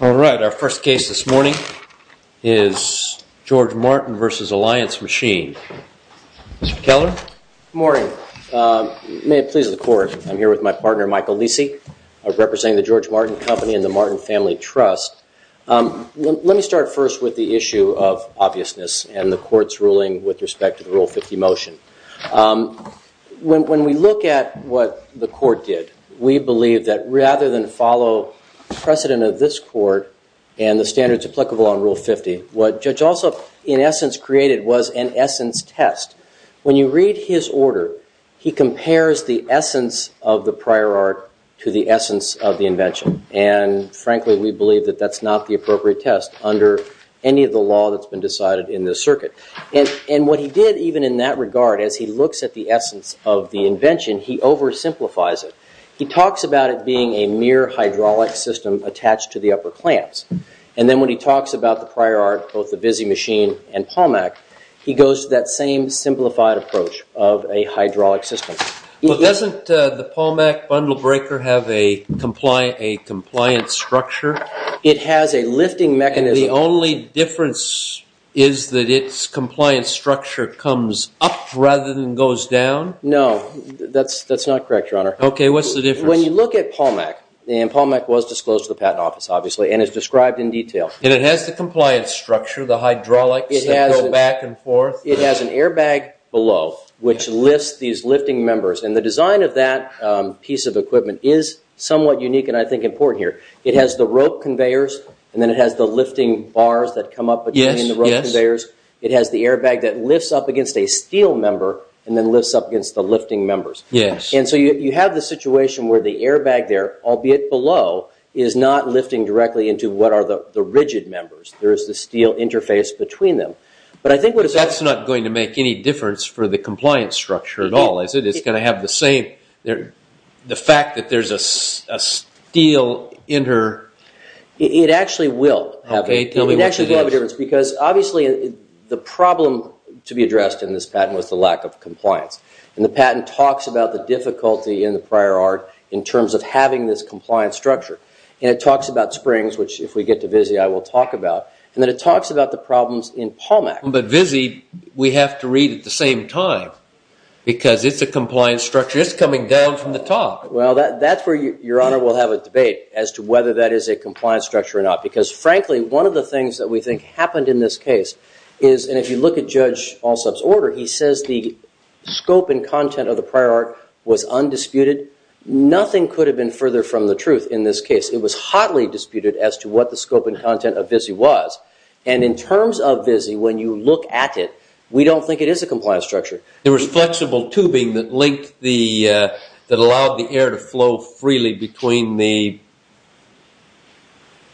All right, our first case this morning is GEO M Martin v. Alliance Machine. Mr. Keller? Good morning. May it please the court, I'm here with my partner, Michael Lisi, representing the GEO M Martin Company and the Martin Family Trust. Let me start first with the issue of when we look at what the court did, we believe that rather than follow precedent of this court and the standards applicable on Rule 50, what Judge Alsop in essence created was an essence test. When you read his order, he compares the essence of the prior art to the essence of the invention. And frankly, we believe that that's not the appropriate test under any of the law that's been decided in this circuit. And what he did even in that invention, he oversimplifies it. He talks about it being a mere hydraulic system attached to the upper clamps. And then when he talks about the prior art, both the VISI machine and PALMAC, he goes to that same simplified approach of a hydraulic system. But doesn't the PALMAC bundle breaker have a compliant structure? It has a lifting mechanism. And the only difference is that its compliant structure comes up rather than goes down? No, that's not correct, Your Honor. Okay, what's the difference? When you look at PALMAC, and PALMAC was disclosed to the Patent Office, obviously, and is described in detail. And it has the compliance structure, the hydraulics that go back and forth? It has an airbag below which lifts these lifting members. And the design of that piece of equipment is somewhat unique and I think important here. It has the rope conveyors and then it has the lifting bars that come up between the rope conveyors. It has the airbag that lifts up against a steel member and then lifts up against the lifting members. Yes. And so you have the situation where the airbag there, albeit below, is not lifting directly into what are the rigid members. There is the steel interface between them. But that's not going to make any difference for the compliance structure at all, is it? It's going to have the same, the fact that there's a steel inter... It actually will. Okay, tell me what it is. It actually will have a difference because, obviously, the problem to be addressed in this patent was the lack of compliance. And the patent talks about the difficulty in the prior art in terms of having this compliance structure. And it talks about springs, which if we get to VIZI, I will talk about. And then it talks about the problems in PALMAC. But VIZI, we have to read at the same time because it's a compliance structure. It's coming down from the top. Well, that's where, Your Honor, we'll have a debate as to whether that is a compliance structure or not. Because, frankly, one of the things that we think happened in this case is, and if you look at Judge Alsop's order, he says the scope and content of the prior art was undisputed. Nothing could have been further from the truth in this case. It was hotly disputed as to what the scope and content of VIZI was. And in terms of VIZI, when you look at it, we don't think it is a compliance structure. There was flexible tubing that linked the, that allowed the air to flow freely between the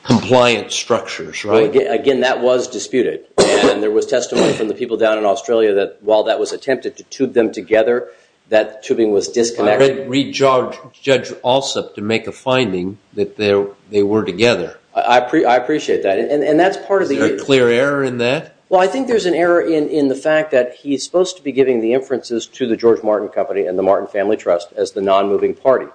compliance structures, right? Again, that was disputed. And there was testimony from the people down in Australia that while that was attempted to tube them together, that tubing was disconnected. I read, read Judge Alsop to make a finding that they were together. I appreciate that. And that's part of the... Is there a clear error in that? Well, I think there's an error in the fact that he's supposed to be giving the inferences to the George Martin Company and the Martin Family Trust as the non-moving party.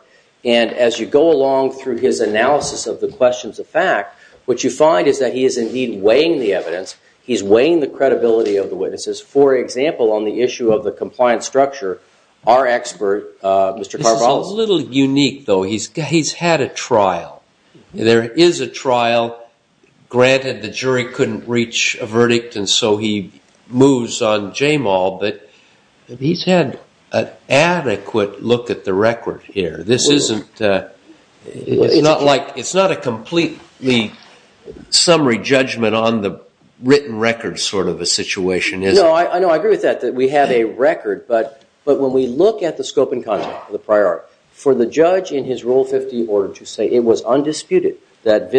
And as you go along through his analysis of the questions of fact, what you find is that he is indeed weighing the evidence. He's weighing the credibility of the witnesses. For example, on the issue of the compliance structure, our expert, Mr. Carvalho... This is a little unique, though. He's had a trial. There is a trial. Granted, the jury couldn't reach a verdict, and so he moves on Jamal, but he's had an adequate look at the record here. This isn't... It's not a complete summary judgment on the written record sort of a situation, is it? No, I agree with that, that we have a record. But when we look at the scope and content of the prior article, for the judge in his Rule 50 order to say it was undisputed that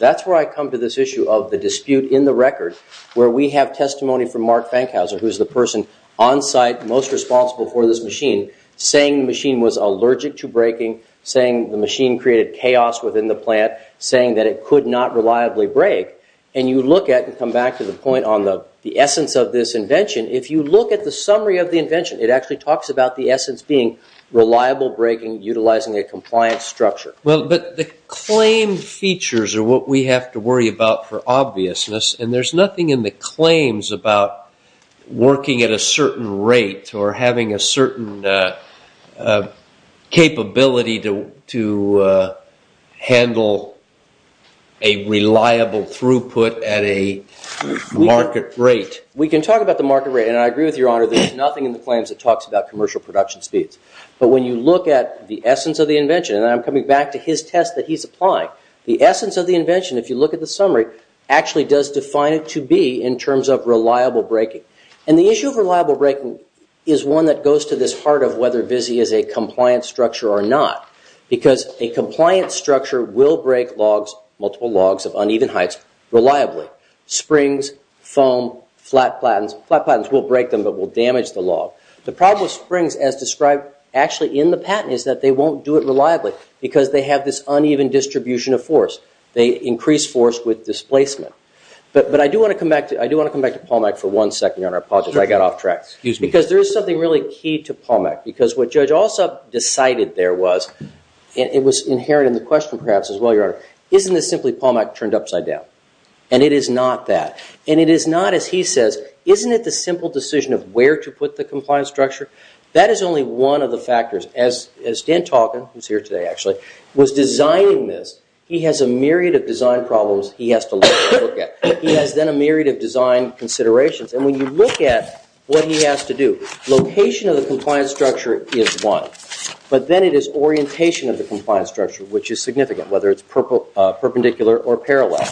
that's where I come to this issue of the dispute in the record where we have testimony from Mark Fankhauser, who's the person on site most responsible for this machine, saying the machine was allergic to breaking, saying the machine created chaos within the plant, saying that it could not reliably break. And you look at it and come back to the point on the essence of this invention. If you look at the summary of the invention, it actually talks about the essence being reliable breaking, utilizing a compliance structure. Well, but the claim features are what we have to worry about for obviousness, and there's nothing in the claims about working at a certain rate or having a certain capability to handle a reliable throughput at a market rate. We can talk about the market rate, and I agree with Your Honor, there's nothing in the claims that talks about commercial production speeds. But when you look at the essence of the invention, and I'm coming back to his test that he's applying, the essence of the invention, if you look at the summary, actually does define it to be in terms of reliable breaking. And the issue of reliable breaking is one that goes to this part of whether VISI is a compliant structure or not, because a compliant structure will break logs, multiple logs of uneven heights, reliably. Springs, foam, flat platens, flat platens will break them but will damage the log. The problem with springs as described actually in the patent is that they won't do it reliably because they have this uneven distribution of force. They increase force with displacement. But I do want to come back to Paul Mack for one second, Your Honor. I apologize, I got off track. Excuse me. Because there is something really key to Paul Mack, because what Judge Alsop decided there was, and it was inherent in the question perhaps as well, Your Honor, isn't this simply Paul Mack turned upside down? And it is not that. And it is not, as he says, isn't it the simple decision of where to put the compliance structure? That is only one of the factors. As Dan Talkin, who is here today actually, was designing this, he has a myriad of design problems he has to look at. He has then a myriad of design considerations. And when you look at what he has to do, location of the compliance structure is one. But then it is orientation of the compliance structure which is significant, whether it is perpendicular or parallel.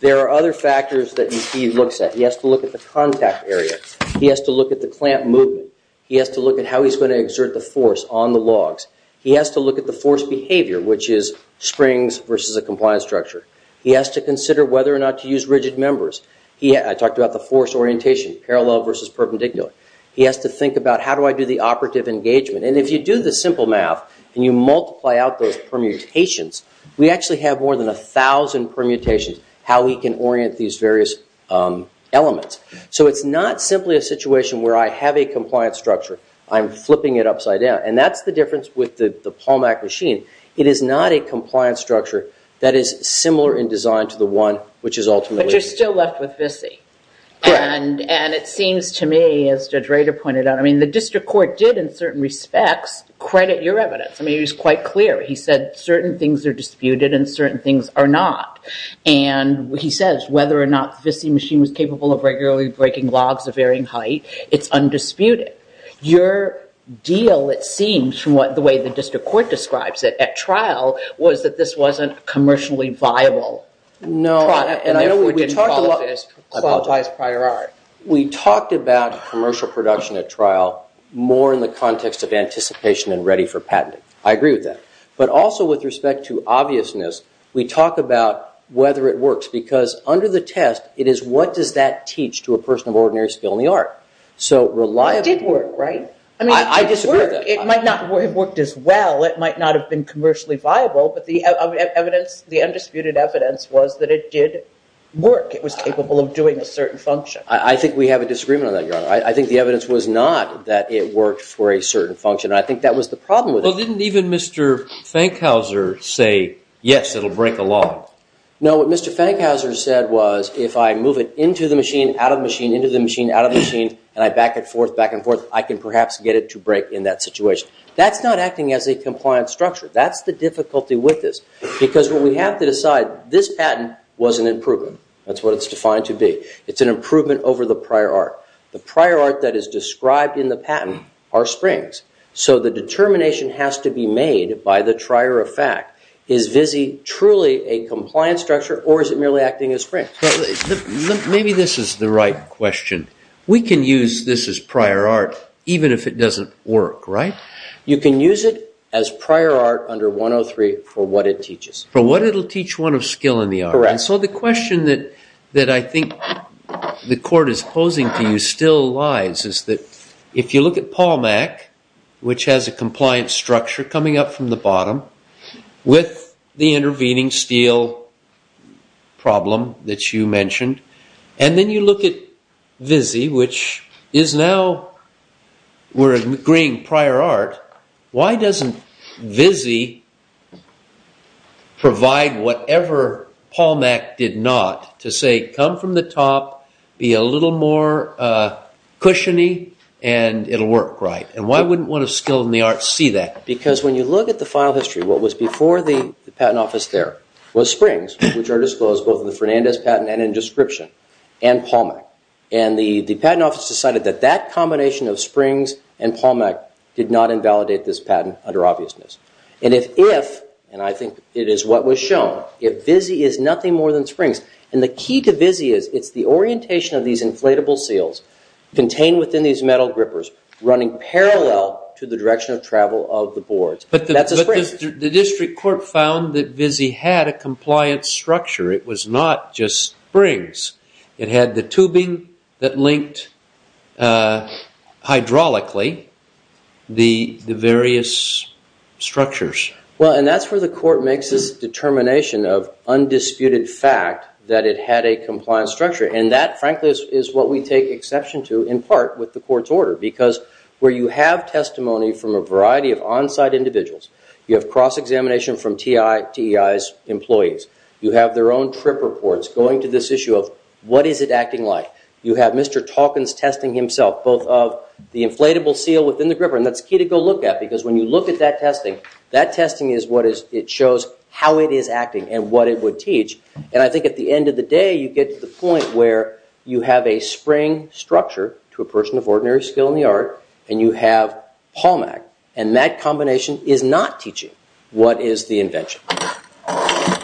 There are other factors that he looks at. He has to look at the contact area. He has to look at the clamp movement. He has to look at how he is going to exert the force on the logs. He has to look at the force behavior, which is springs versus a compliance structure. He has to consider whether or not to use rigid members. I talked about the force orientation, parallel versus perpendicular. He has to think about how do I do the operative engagement. And if you do the simple math and you multiply out those permutations, we actually have more than a thousand permutations, how we can orient these various elements. So it is not simply a situation where I have a compliance structure. I am flipping it upside down. And that is the difference with the Palmac machine. It is not a compliance structure that is similar in design to the one which is ultimately... But you are still left with Visi. And it seems to me, as Judge Rader pointed out, I mean the district court did in certain respects credit your evidence. I mean it was quite clear. He said certain things are disputed and certain things are not. And he says whether or not the Visi machine was capable of regularly breaking logs of varying height, it is undisputed. Your deal, it seems, from the way the district court describes it at trial, was that this wasn't commercially viable. No, and I know we didn't qualify as prior art. We talked about commercial production at trial more in the context of anticipation and ready for patenting. I agree with that. But also with respect to obviousness, we talk about whether it works. Because under the test, it is what does that teach to a person of ordinary skill in the art. So reliable... It did work, right? I disagree with that. It might not have worked as well. It might not have been commercially viable. But the undisputed evidence was that it did work. It was capable of doing a certain function. I think we have a disagreement on that, Your Honor. I think the evidence was not that it worked for a certain function. And I think that was the problem with it. Well, didn't even Mr. Fankhauser say, yes, it'll break a law? No, what Mr. Fankhauser said was, if I move it into the machine, out of the machine, into the machine, out of the machine, and I back it forth, back and forth, I can perhaps get it to break in that situation. That's not acting as a compliant structure. That's the difficulty with this. Because what we have to decide, this patent was an improvement. That's what it's defined to be. It's an improvement over the prior art. The prior art that is described in the patent are springs. So the question is, is it truly a compliant structure, or is it merely acting as springs? Maybe this is the right question. We can use this as prior art, even if it doesn't work, right? You can use it as prior art under 103 for what it teaches. For what it'll teach one of skill in the art. Correct. And so the question that I think the Court is posing to you still lies, is that if you look at PALMAC, which has a compliant structure coming up from the bottom, with the intervening steel problem that you mentioned, and then you look at VIZI, which is now, we're agreeing, prior art, why doesn't VIZI provide whatever PALMAC did not to say, come from the top, be a little more cushiony, and it'll work, right? And why wouldn't one of skill in the art see that? Because when you look at the file history, what was before the Patent Office there was springs, which are disclosed both in the Fernandez patent and in description, and PALMAC. And the Patent Office decided that that combination of springs and PALMAC did not invalidate this patent under obviousness. And if, and I think it is what was shown, if VIZI is nothing more than springs, and the key to VIZI is it's the orientation of these inflatable seals contained within these metal grippers running parallel to the direction of travel of the boards. But the district court found that VIZI had a compliant structure. It was not just springs. It had the tubing that linked hydraulically the various structures. Well, and that's where the court makes this determination of undisputed fact that it had a compliant structure. And that, frankly, is what we take exception to, in part, with the court's order. Because where you have testimony from a variety of on-site individuals, you have cross-examination from TEI's employees. You have their own trip reports going to this issue of what is it acting like. You have Mr. Talkins testing himself, both of the inflatable seal within the gripper. And that's key to go look at, because when you look at that testing, that testing is what is, it shows how it is acting and what it would teach. And I think at the end of the day, you get to the point where you have a spring structure to a person of ordinary skill in the art, and you have PALMAC. And that combination is not teaching what is the invention.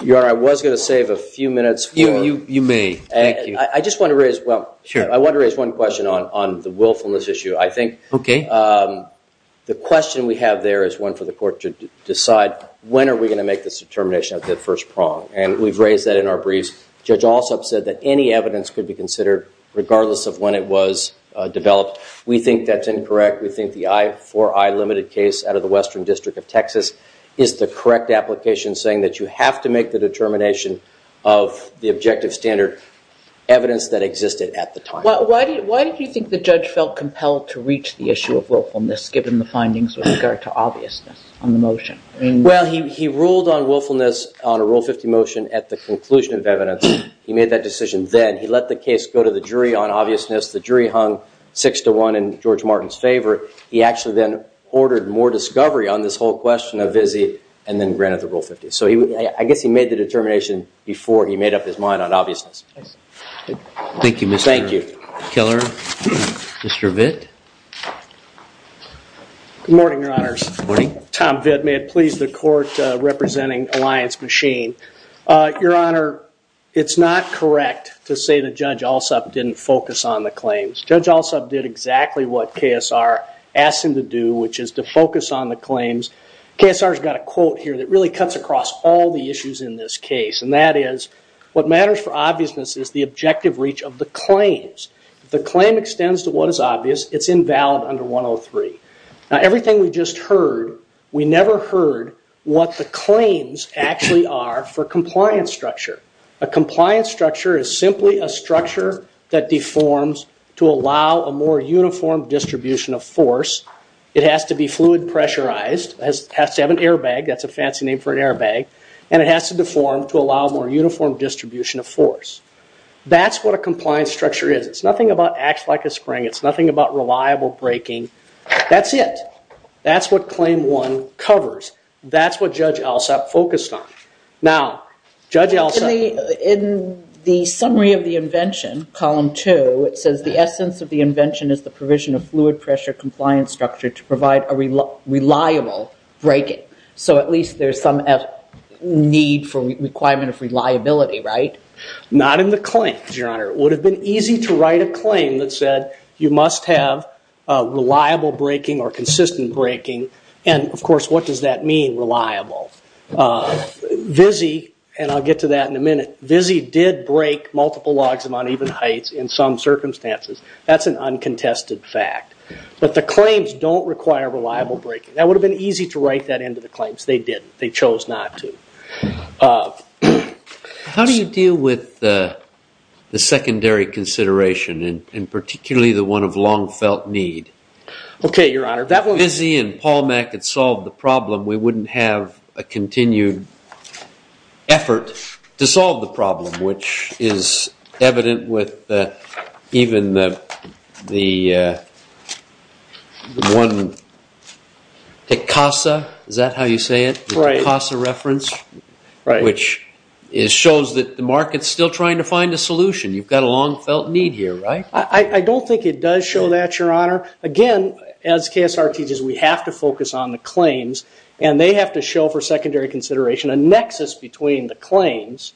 Your Honor, I was going to save a few minutes. You may. Thank you. I just want to raise, well, I want to raise one question on the willfulness issue. I think the question we have there is one for the court to decide, when are we going to make this determination of that first prong? And we've raised that in our briefs. Judge Alsop said that any evidence could be considered, regardless of when it was developed. We think that's incorrect. We think the 4I limited case out of the Western District of Texas is the correct application, saying that you have to make the determination of the objective standard evidence that existed at the time. Why did you think the judge felt compelled to reach the issue of willfulness, given the findings with regard to obviousness on the motion? Well, he ruled on willfulness on a Rule 50 motion at the conclusion of evidence. He made that decision then. He let the case go to the jury on obviousness. The jury hung 6 to 1 in George Martin's favor. He actually then ordered more discovery on this whole question of Vizzie, and then granted the Rule 50. So I guess he made the determination before he made up his mind on obviousness. Thank you, Mr. Keller. Mr. Vitt? Good morning, Your Honors. Tom Vitt. May it Your Honor, it's not correct to say that Judge Alsop didn't focus on the claims. Judge Alsop did exactly what KSR asked him to do, which is to focus on the claims. KSR's got a quote here that really cuts across all the issues in this case, and that is, what matters for obviousness is the objective reach of the claims. If the claim extends to what is obvious, it's invalid under 103. Now, everything we just heard, we never heard what the claims actually are for compliance structure. A compliance structure is simply a structure that deforms to allow a more uniform distribution of force. It has to be fluid pressurized. It has to have an airbag. That's a fancy name for an airbag. And it has to deform to allow more uniform distribution of force. That's what a compliance structure is. It's nothing about acts like a spring. It's nothing about reliable braking. That's it. That's what Claim 1 covers. That's what Judge Alsop focused on. Now, Judge Alsop... In the summary of the invention, column 2, it says, the essence of the invention is the provision of fluid pressure compliance structure to provide a reliable braking. So at least there's some need for requirement of reliability, right? Not in the claims, Your Honor. It would have been easy to write a claim that said, you must have reliable braking or consistent braking. And of course, what does that mean, reliable? Vizzey, and I'll get to that in a minute, Vizzey did brake multiple logs of uneven heights in some circumstances. That's an uncontested fact. But the claims don't require reliable braking. That would have been easy to write that into the claims. They didn't. They chose not to. How do you deal with the secondary consideration, and particularly the one of long-felt need? Okay, Your Honor, that was... If Vizzey and Palmec had solved the problem, we wouldn't have a continued effort to solve the problem, which is evident with even the one, the CASA, is that how you say it? CASA reference? Which shows that the market's still trying to find a solution. You've got a long-felt need here, right? I don't think it does show that, Your Honor. Again, as KSR teaches, we have to focus on the claims, and they have to show for secondary consideration a nexus between the claims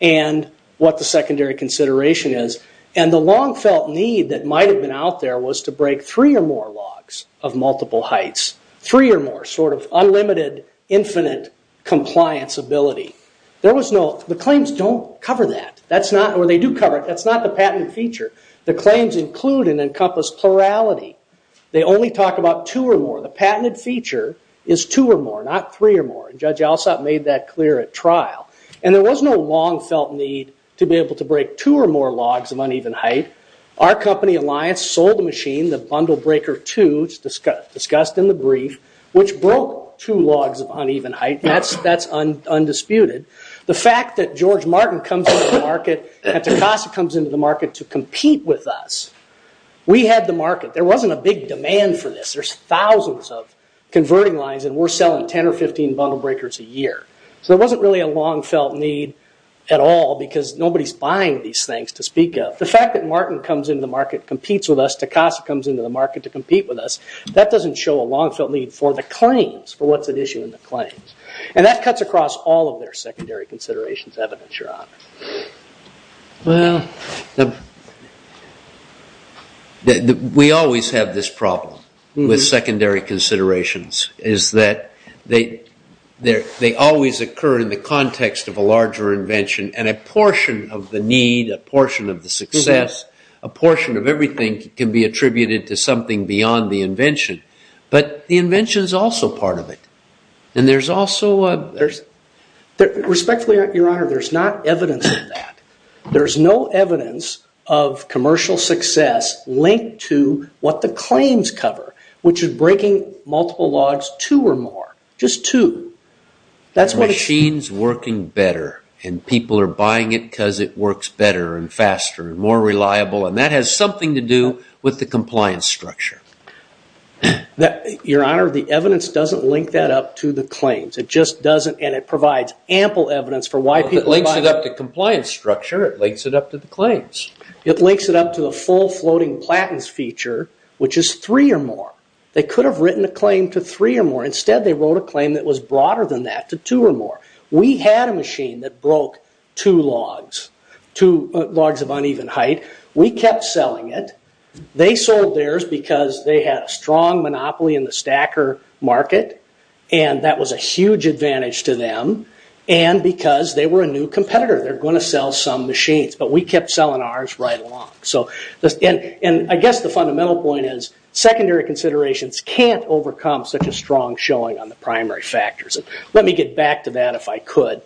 and what the secondary consideration is. And the long-felt need that might have been out there was to brake three or more logs of multiple heights. Three or more, sort of unlimited, infinite compliance ability. There was no... The claims don't cover that. That's not... Or they do cover it. That's not the patented feature. The claims include and encompass plurality. They only talk about two or more. The patented feature is two or more, not three or more. Judge Alsop made that clear at trial. And there was no long-felt need to be able to break two or more logs of uneven height. Our company, Alliance, sold the machine, the logs of uneven height. That's undisputed. The fact that George Martin comes into the market, and Tecasa comes into the market to compete with us, we had the market. There wasn't a big demand for this. There's thousands of converting lines, and we're selling 10 or 15 bundle breakers a year. So there wasn't really a long-felt need at all, because nobody's buying these things to speak of. The fact that Martin comes into the market, competes with us, Tecasa comes into the market to compete with us, that doesn't show a long-felt need for the claims, for what's at issue in the claims. And that cuts across all of their secondary considerations evidence, Your Honor. Well, we always have this problem with secondary considerations, is that they always occur in the context of a larger invention. And a portion of the need, a portion of the success, a portion of everything can be attributed to something beyond the invention. But the invention is also part of it. And there's also a... Respectfully, Your Honor, there's not evidence of that. There's no evidence of commercial success linked to what the claims cover, which is breaking multiple logs two or more, just two. The machine's working better, and people are buying it because it works better and faster and more reliable, and that has something to do with the compliance structure. Your Honor, the evidence doesn't link that up to the claims. It just doesn't, and it provides ample evidence for why people buy... It links it up to compliance structure. It links it up to the claims. It links it up to a full floating platens feature, which is three or more. They could have written a claim to three or more. Instead, they wrote a claim that was broader than that, to two or more. We had a machine that broke two logs, two logs of uneven height. We kept selling it. They sold theirs because they had a strong monopoly in the stacker market, and that was a huge advantage to them, and because they were a new competitor. They're going to sell some machines, but we kept selling ours right along. I guess the fundamental point is, secondary considerations can't overcome such a strong selling on the primary factors. Let me get back to that, if I could.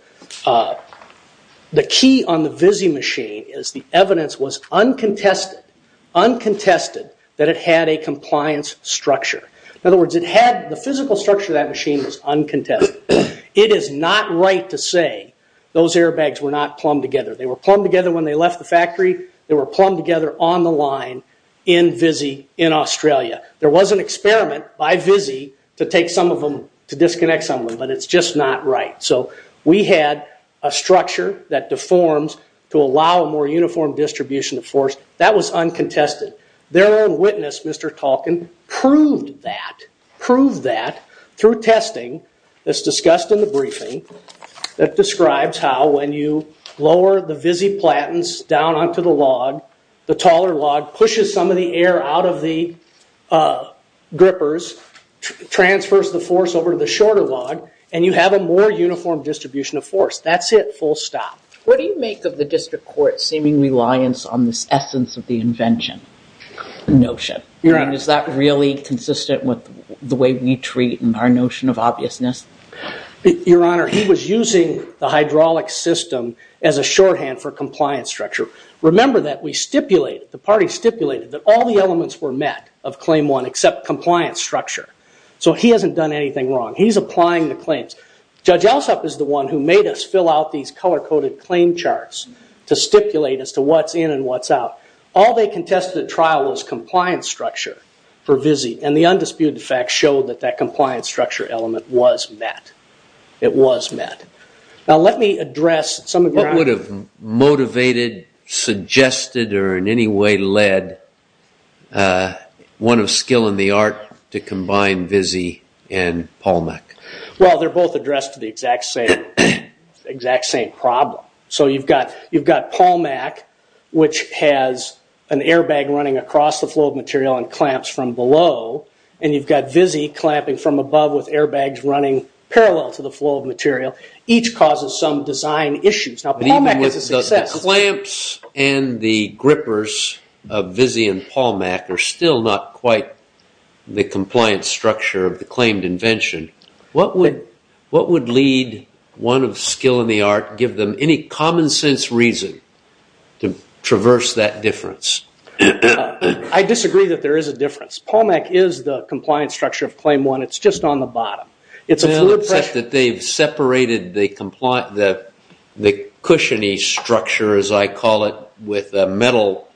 The key on the Vizzy machine is the evidence was uncontested, uncontested, that it had a compliance structure. In other words, the physical structure of that machine was uncontested. It is not right to say those airbags were not plumbed together. They were plumbed together when they left the factory. They were plumbed together on the line in Vizzy, in Australia. There was an experiment by Vizzy to take some of them, to disconnect some of them, but it's just not right. We had a structure that deforms to allow a more uniform distribution of force. That was uncontested. Their own witness, Mr. Tolkien, proved that, proved that through testing that's discussed in the briefing, that describes how when you lower the Vizzy grippers, transfers the force over to the shorter log, and you have a more uniform distribution of force. That's it, full stop. What do you make of the district court's seeming reliance on this essence of the invention notion? Is that really consistent with the way we treat and our notion of obviousness? Your Honor, he was using the hydraulic system as a shorthand for compliance structure. Remember that we stipulated, the party stipulated that all the elements were met of Claim 1 except compliance structure. He hasn't done anything wrong. He's applying the claims. Judge Alsop is the one who made us fill out these color-coded claim charts to stipulate as to what's in and what's out. All they contested at trial was compliance structure for Vizzy, and the undisputed fact showed that that compliance structure element was met. It was met. Now let me address some of the ground... One of skill and the art to combine Vizzy and Palmac. Well, they're both addressed to the exact same problem. You've got Palmac, which has an airbag running across the flow of material and clamps from below, and you've got Vizzy clamping from above with airbags running parallel to the flow of material. Each causes some design issues. Now, Palmac is a success. Clamps and the grippers of Vizzy and Palmac are still not quite the compliance structure of the claimed invention. What would lead one of skill and the art, give them any common sense reason to traverse that difference? I disagree that there is a difference. Palmac is the compliance structure of Claim 1. It's just on the bottom. It's a fluid pressure... Well, except that they've separated the cushiony structure, as I call it, with a metal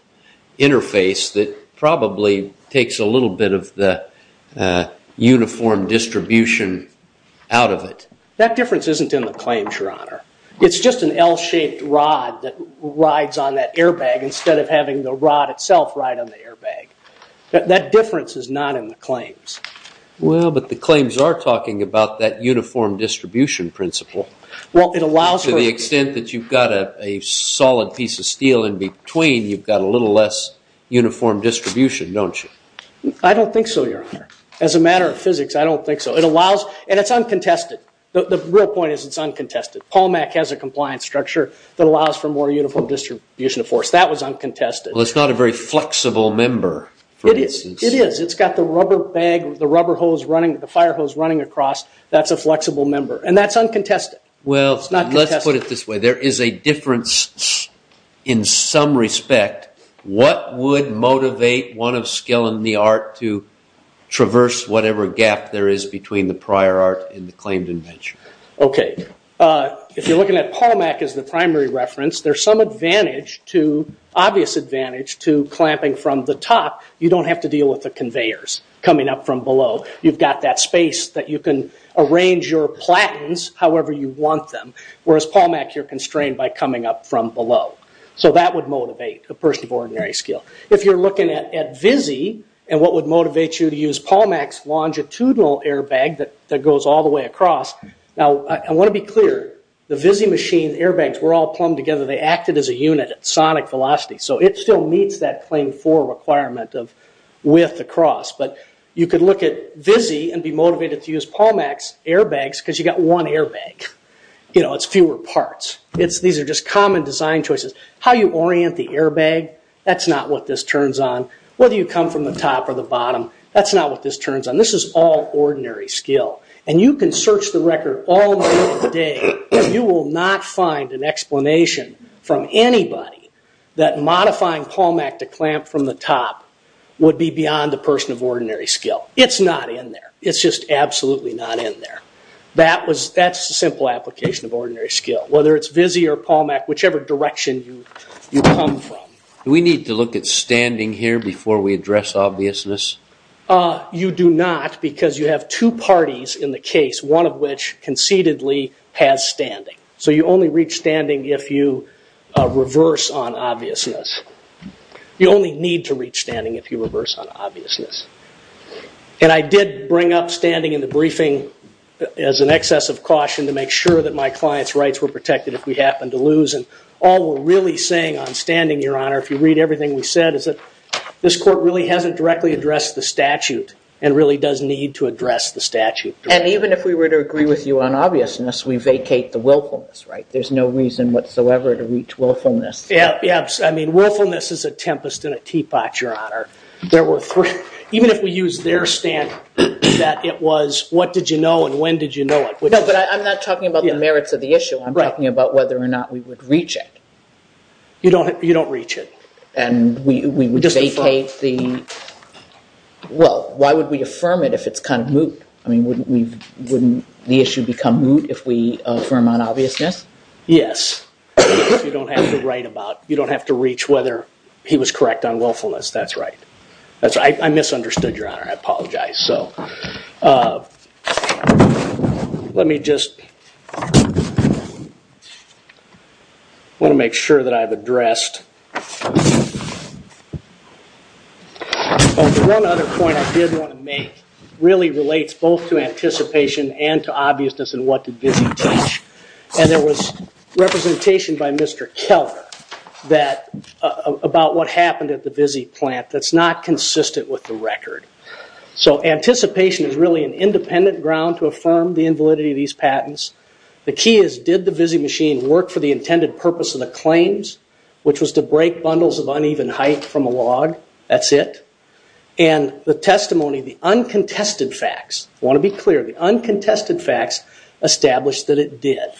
interface that probably takes a little bit of the uniform distribution out of it. That difference isn't in the claims, Your Honor. It's just an L-shaped rod that rides on that airbag instead of having the rod itself ride on the airbag. That difference is not in the claims. Well, but the claims are talking about that uniform distribution principle. Well, it allows... To the extent that you've got a solid piece of steel in between, you've got a little less uniform distribution, don't you? I don't think so, Your Honor. As a matter of physics, I don't think so. It allows... And it's uncontested. The real point is it's uncontested. Palmac has a compliance structure that allows for more uniform distribution of force. That was uncontested. Well, it's not a very flexible member, for instance. It is. It's got the rubber bag, the rubber hose running, the fire hose running across. That's a flexible member. And that's uncontested. It's not contested. Well, let's put it this way. There is a difference in some respect. What would motivate one of Skill and the Art to traverse whatever gap there is between the prior art and the claimed invention? Okay. If you're looking at Palmac as the primary reference, there's some advantage to, obvious the conveyors coming up from below. You've got that space that you can arrange your platens however you want them, whereas Palmac, you're constrained by coming up from below. That would motivate a person of ordinary skill. If you're looking at Vizzy and what would motivate you to use Palmac's longitudinal airbag that goes all the way across... Now, I want to be clear. The Vizzy machine airbags were all plumbed together. They acted as a unit at sonic velocity. It still meets that claim four requirement of width across. You could look at Vizzy and be motivated to use Palmac's airbags because you got one airbag. It's fewer parts. These are just common design choices. How you orient the airbag, that's not what this turns on. Whether you come from the top or the bottom, that's not what this turns on. This is all ordinary skill. You can search the record all day. You will not find an explanation from anybody that a ramp from the top would be beyond a person of ordinary skill. It's not in there. It's just absolutely not in there. That's a simple application of ordinary skill, whether it's Vizzy or Palmac, whichever direction you come from. We need to look at standing here before we address obviousness? You do not because you have two parties in the case, one of which concededly has standing. You only reach standing if you reverse on obviousness. You only need to reach standing if you reverse on obviousness. I did bring up standing in the briefing as an excess of caution to make sure that my client's rights were protected if we happened to lose. All we're really saying on standing, Your Honor, if you read everything we said, is that this court really hasn't directly addressed the statute and really does need to address the statute. Even if we were to agree with you on obviousness, we vacate the willfulness, right? There's no reason whatsoever to reach willfulness. Yeah. I mean, willfulness is a tempest in a teapot, Your Honor. Even if we use their stand that it was, what did you know and when did you know it? No, but I'm not talking about the merits of the issue. I'm talking about whether or not we would reach it. You don't reach it. Well, why would we affirm it if it's kind of moot? I mean, wouldn't the issue become moot if we affirm on obviousness? Yes. You don't have to reach whether he was correct on willfulness. That's right. I misunderstood, Your Honor. I apologize. Let me just... I want to make sure that I've addressed... Well, the one other point I did want to make really relates both to anticipation and to obviousness and what did Vizzi teach. There was representation by Mr. Keller about what happened at the Vizzi plant that's not consistent with the record. Anticipation is really an independent ground to affirm the invalidity of these patents. The key is did the Vizzi machine work for the intended purpose of the claims, which was to break bundles of uneven height from a log? That's it. The testimony, the uncontested facts, I want to be clear, the uncontested facts established that it did.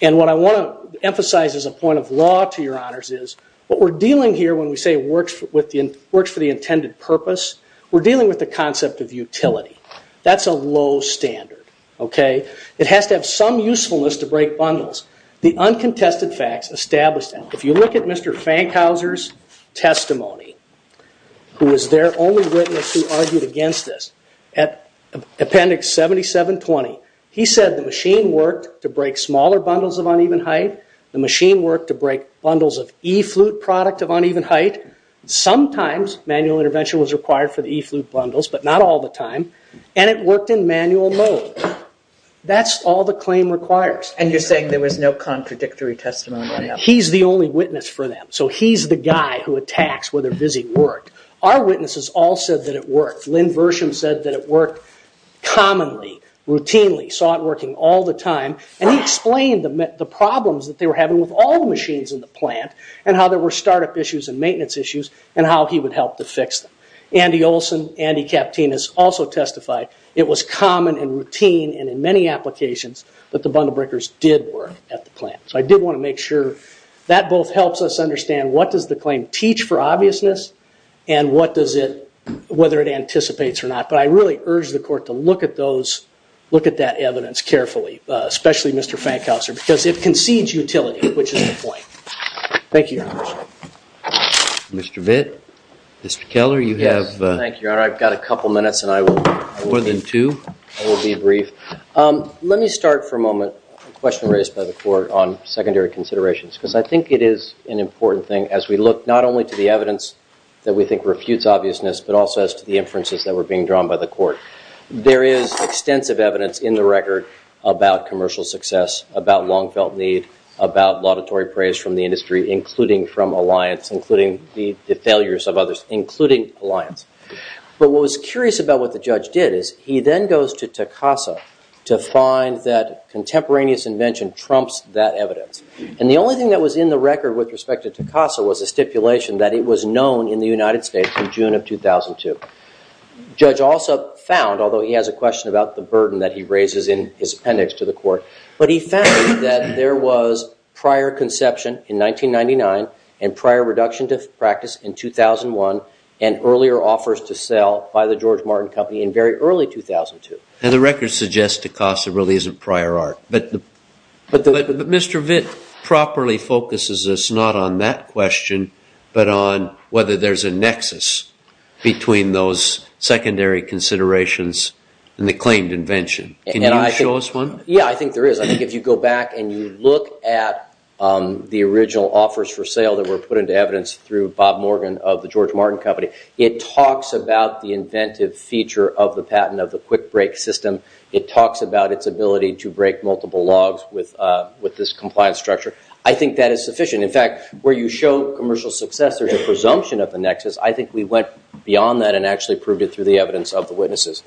What I want to emphasize as a point of law to Your Honors is what we're dealing with works for the intended purpose. We're dealing with the concept of utility. That's a low standard. It has to have some usefulness to break bundles. The uncontested facts established that. If you look at Mr. Fankhauser's testimony, who was their only witness who argued against this, at Appendix 7720, he said the machine worked to break smaller bundles of uneven height. The machine worked to break bundles of e-flute product of uneven height. Sometimes manual intervention was required for the e-flute bundles, but not all the time. It worked in manual mode. That's all the claim requires. You're saying there was no contradictory testimony? He's the only witness for them. He's the guy who attacks whether Vizzi worked. Our witnesses all said that it worked. Lynn Versham said that it worked commonly, routinely, saw it working all the time. He explained the problems that they were having with all the machines in the plant, and how there were startup issues and maintenance issues, and how he would help to fix them. Andy Olson, Andy Kaptinas also testified it was common and routine and in many applications that the bundle breakers did work at the plant. I did want to make sure that both helps us understand what does the claim teach for obviousness and whether it anticipates or not. I really urge the court to look at that evidence carefully, especially Mr. Fankhauser, because it concedes utility, which is the point. Thank you, Your Honor. Mr. Vitt, Mr. Keller, you have... Yes, thank you, Your Honor. I've got a couple minutes and I will... More than two? I will be brief. Let me start for a moment with a question raised by the court on secondary considerations, because I think it is an important thing as we look not only to the evidence that we think refutes obviousness, but also as to the inferences that were being drawn by the court. There is extensive evidence in the record about commercial success, about long-felt need, about laudatory praise from the industry, including from Alliance, including the failures of others, including Alliance. But what was curious about what the judge did is he then goes to Takasa to find that contemporaneous invention trumps that evidence. And the only thing that was in the record with respect to Takasa was a stipulation that it was known in the United States in June of 2002. Judge also found, although he has a question about the burden that he raises in his appendix to the court, but he found that there was prior conception in 1999 and prior reduction to practice in 2001 and earlier offers to sell by the George Martin Company in very early 2002. And the record suggests Takasa really isn't prior art. But Mr. Vitt properly focuses us not on that question, but on whether there is a nexus between those secondary considerations and the claimed invention. Can you show us one? Yeah, I think there is. I think if you go back and you look at the original offers for sale that were put into evidence through Bob Morgan of the George Martin Company, it talks about the inventive feature of the patent of the quick break system. It talks about its ability to break multiple logs with this compliance structure. I think that is sufficient. In fact, where you show commercial success, there's a presumption of the nexus. I think we went beyond that and actually proved it through the evidence of the witnesses.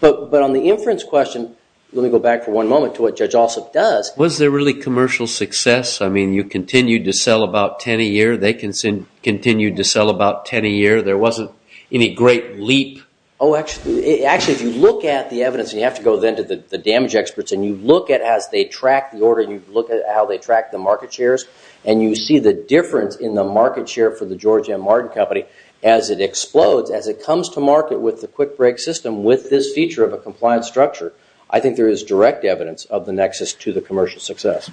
But on the inference question, let me go back for one moment to what Judge Alsop does. Was there really commercial success? I mean, you continued to sell about 10 a year. They continued to sell about 10 a year. There wasn't any great leap? Oh, actually, if you look at the evidence, and you have to go then to the damage experts, and you look at how they track the order, and you look at how they track the market shares, and you see the difference in the market share for the George M. Martin Company as it explodes, as it comes to market with the quick break system with this feature of a compliance structure, I think there is direct evidence of the nexus to the commercial success.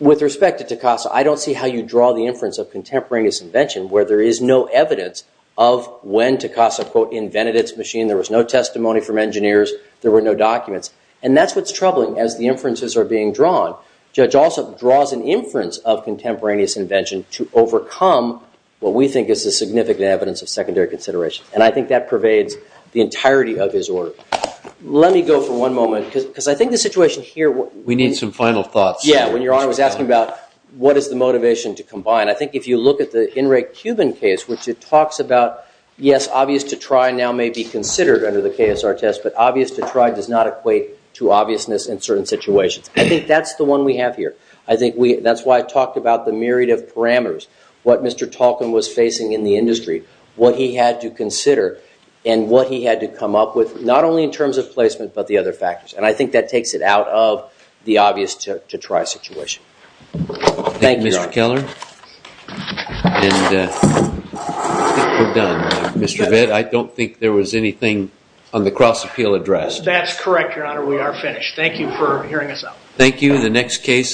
With respect to Takasa, I don't see how you draw the inference of contemporaneous invention where there is no evidence of when Takasa, quote, invented its machine. There was no testimony from engineers. There were no documents. And that's what's troubling as the inferences are being drawn. Judge Alsop draws an inference of contemporaneous invention to overcome what we think is the significant evidence of secondary consideration. And I think that pervades the entirety of his order. Let me go for one moment, because I think the situation here. We need some final thoughts. Yeah, when Your Honor was asking about what is the motivation to combine, I think if you look at the Henry Cuban case, which it talks about, yes, obvious to try now may be considered under the KSR test, but obvious to try does not equate to obviousness in certain situations. I think that's the one we have here. I think that's why I talked about the myriad of parameters, what Mr. Talken was facing in the industry, what he had to consider, and what he had to come up with, not only in terms of placement, but the other factors. And I think that takes it out of the obvious to try situation. Thank you, Mr. Keller. And I think we're done. Mr. Bitt, I don't think there was anything on the cross-appeal address. That's correct, Your Honor. We are finished. Thank you for hearing us out. Thank you. The next case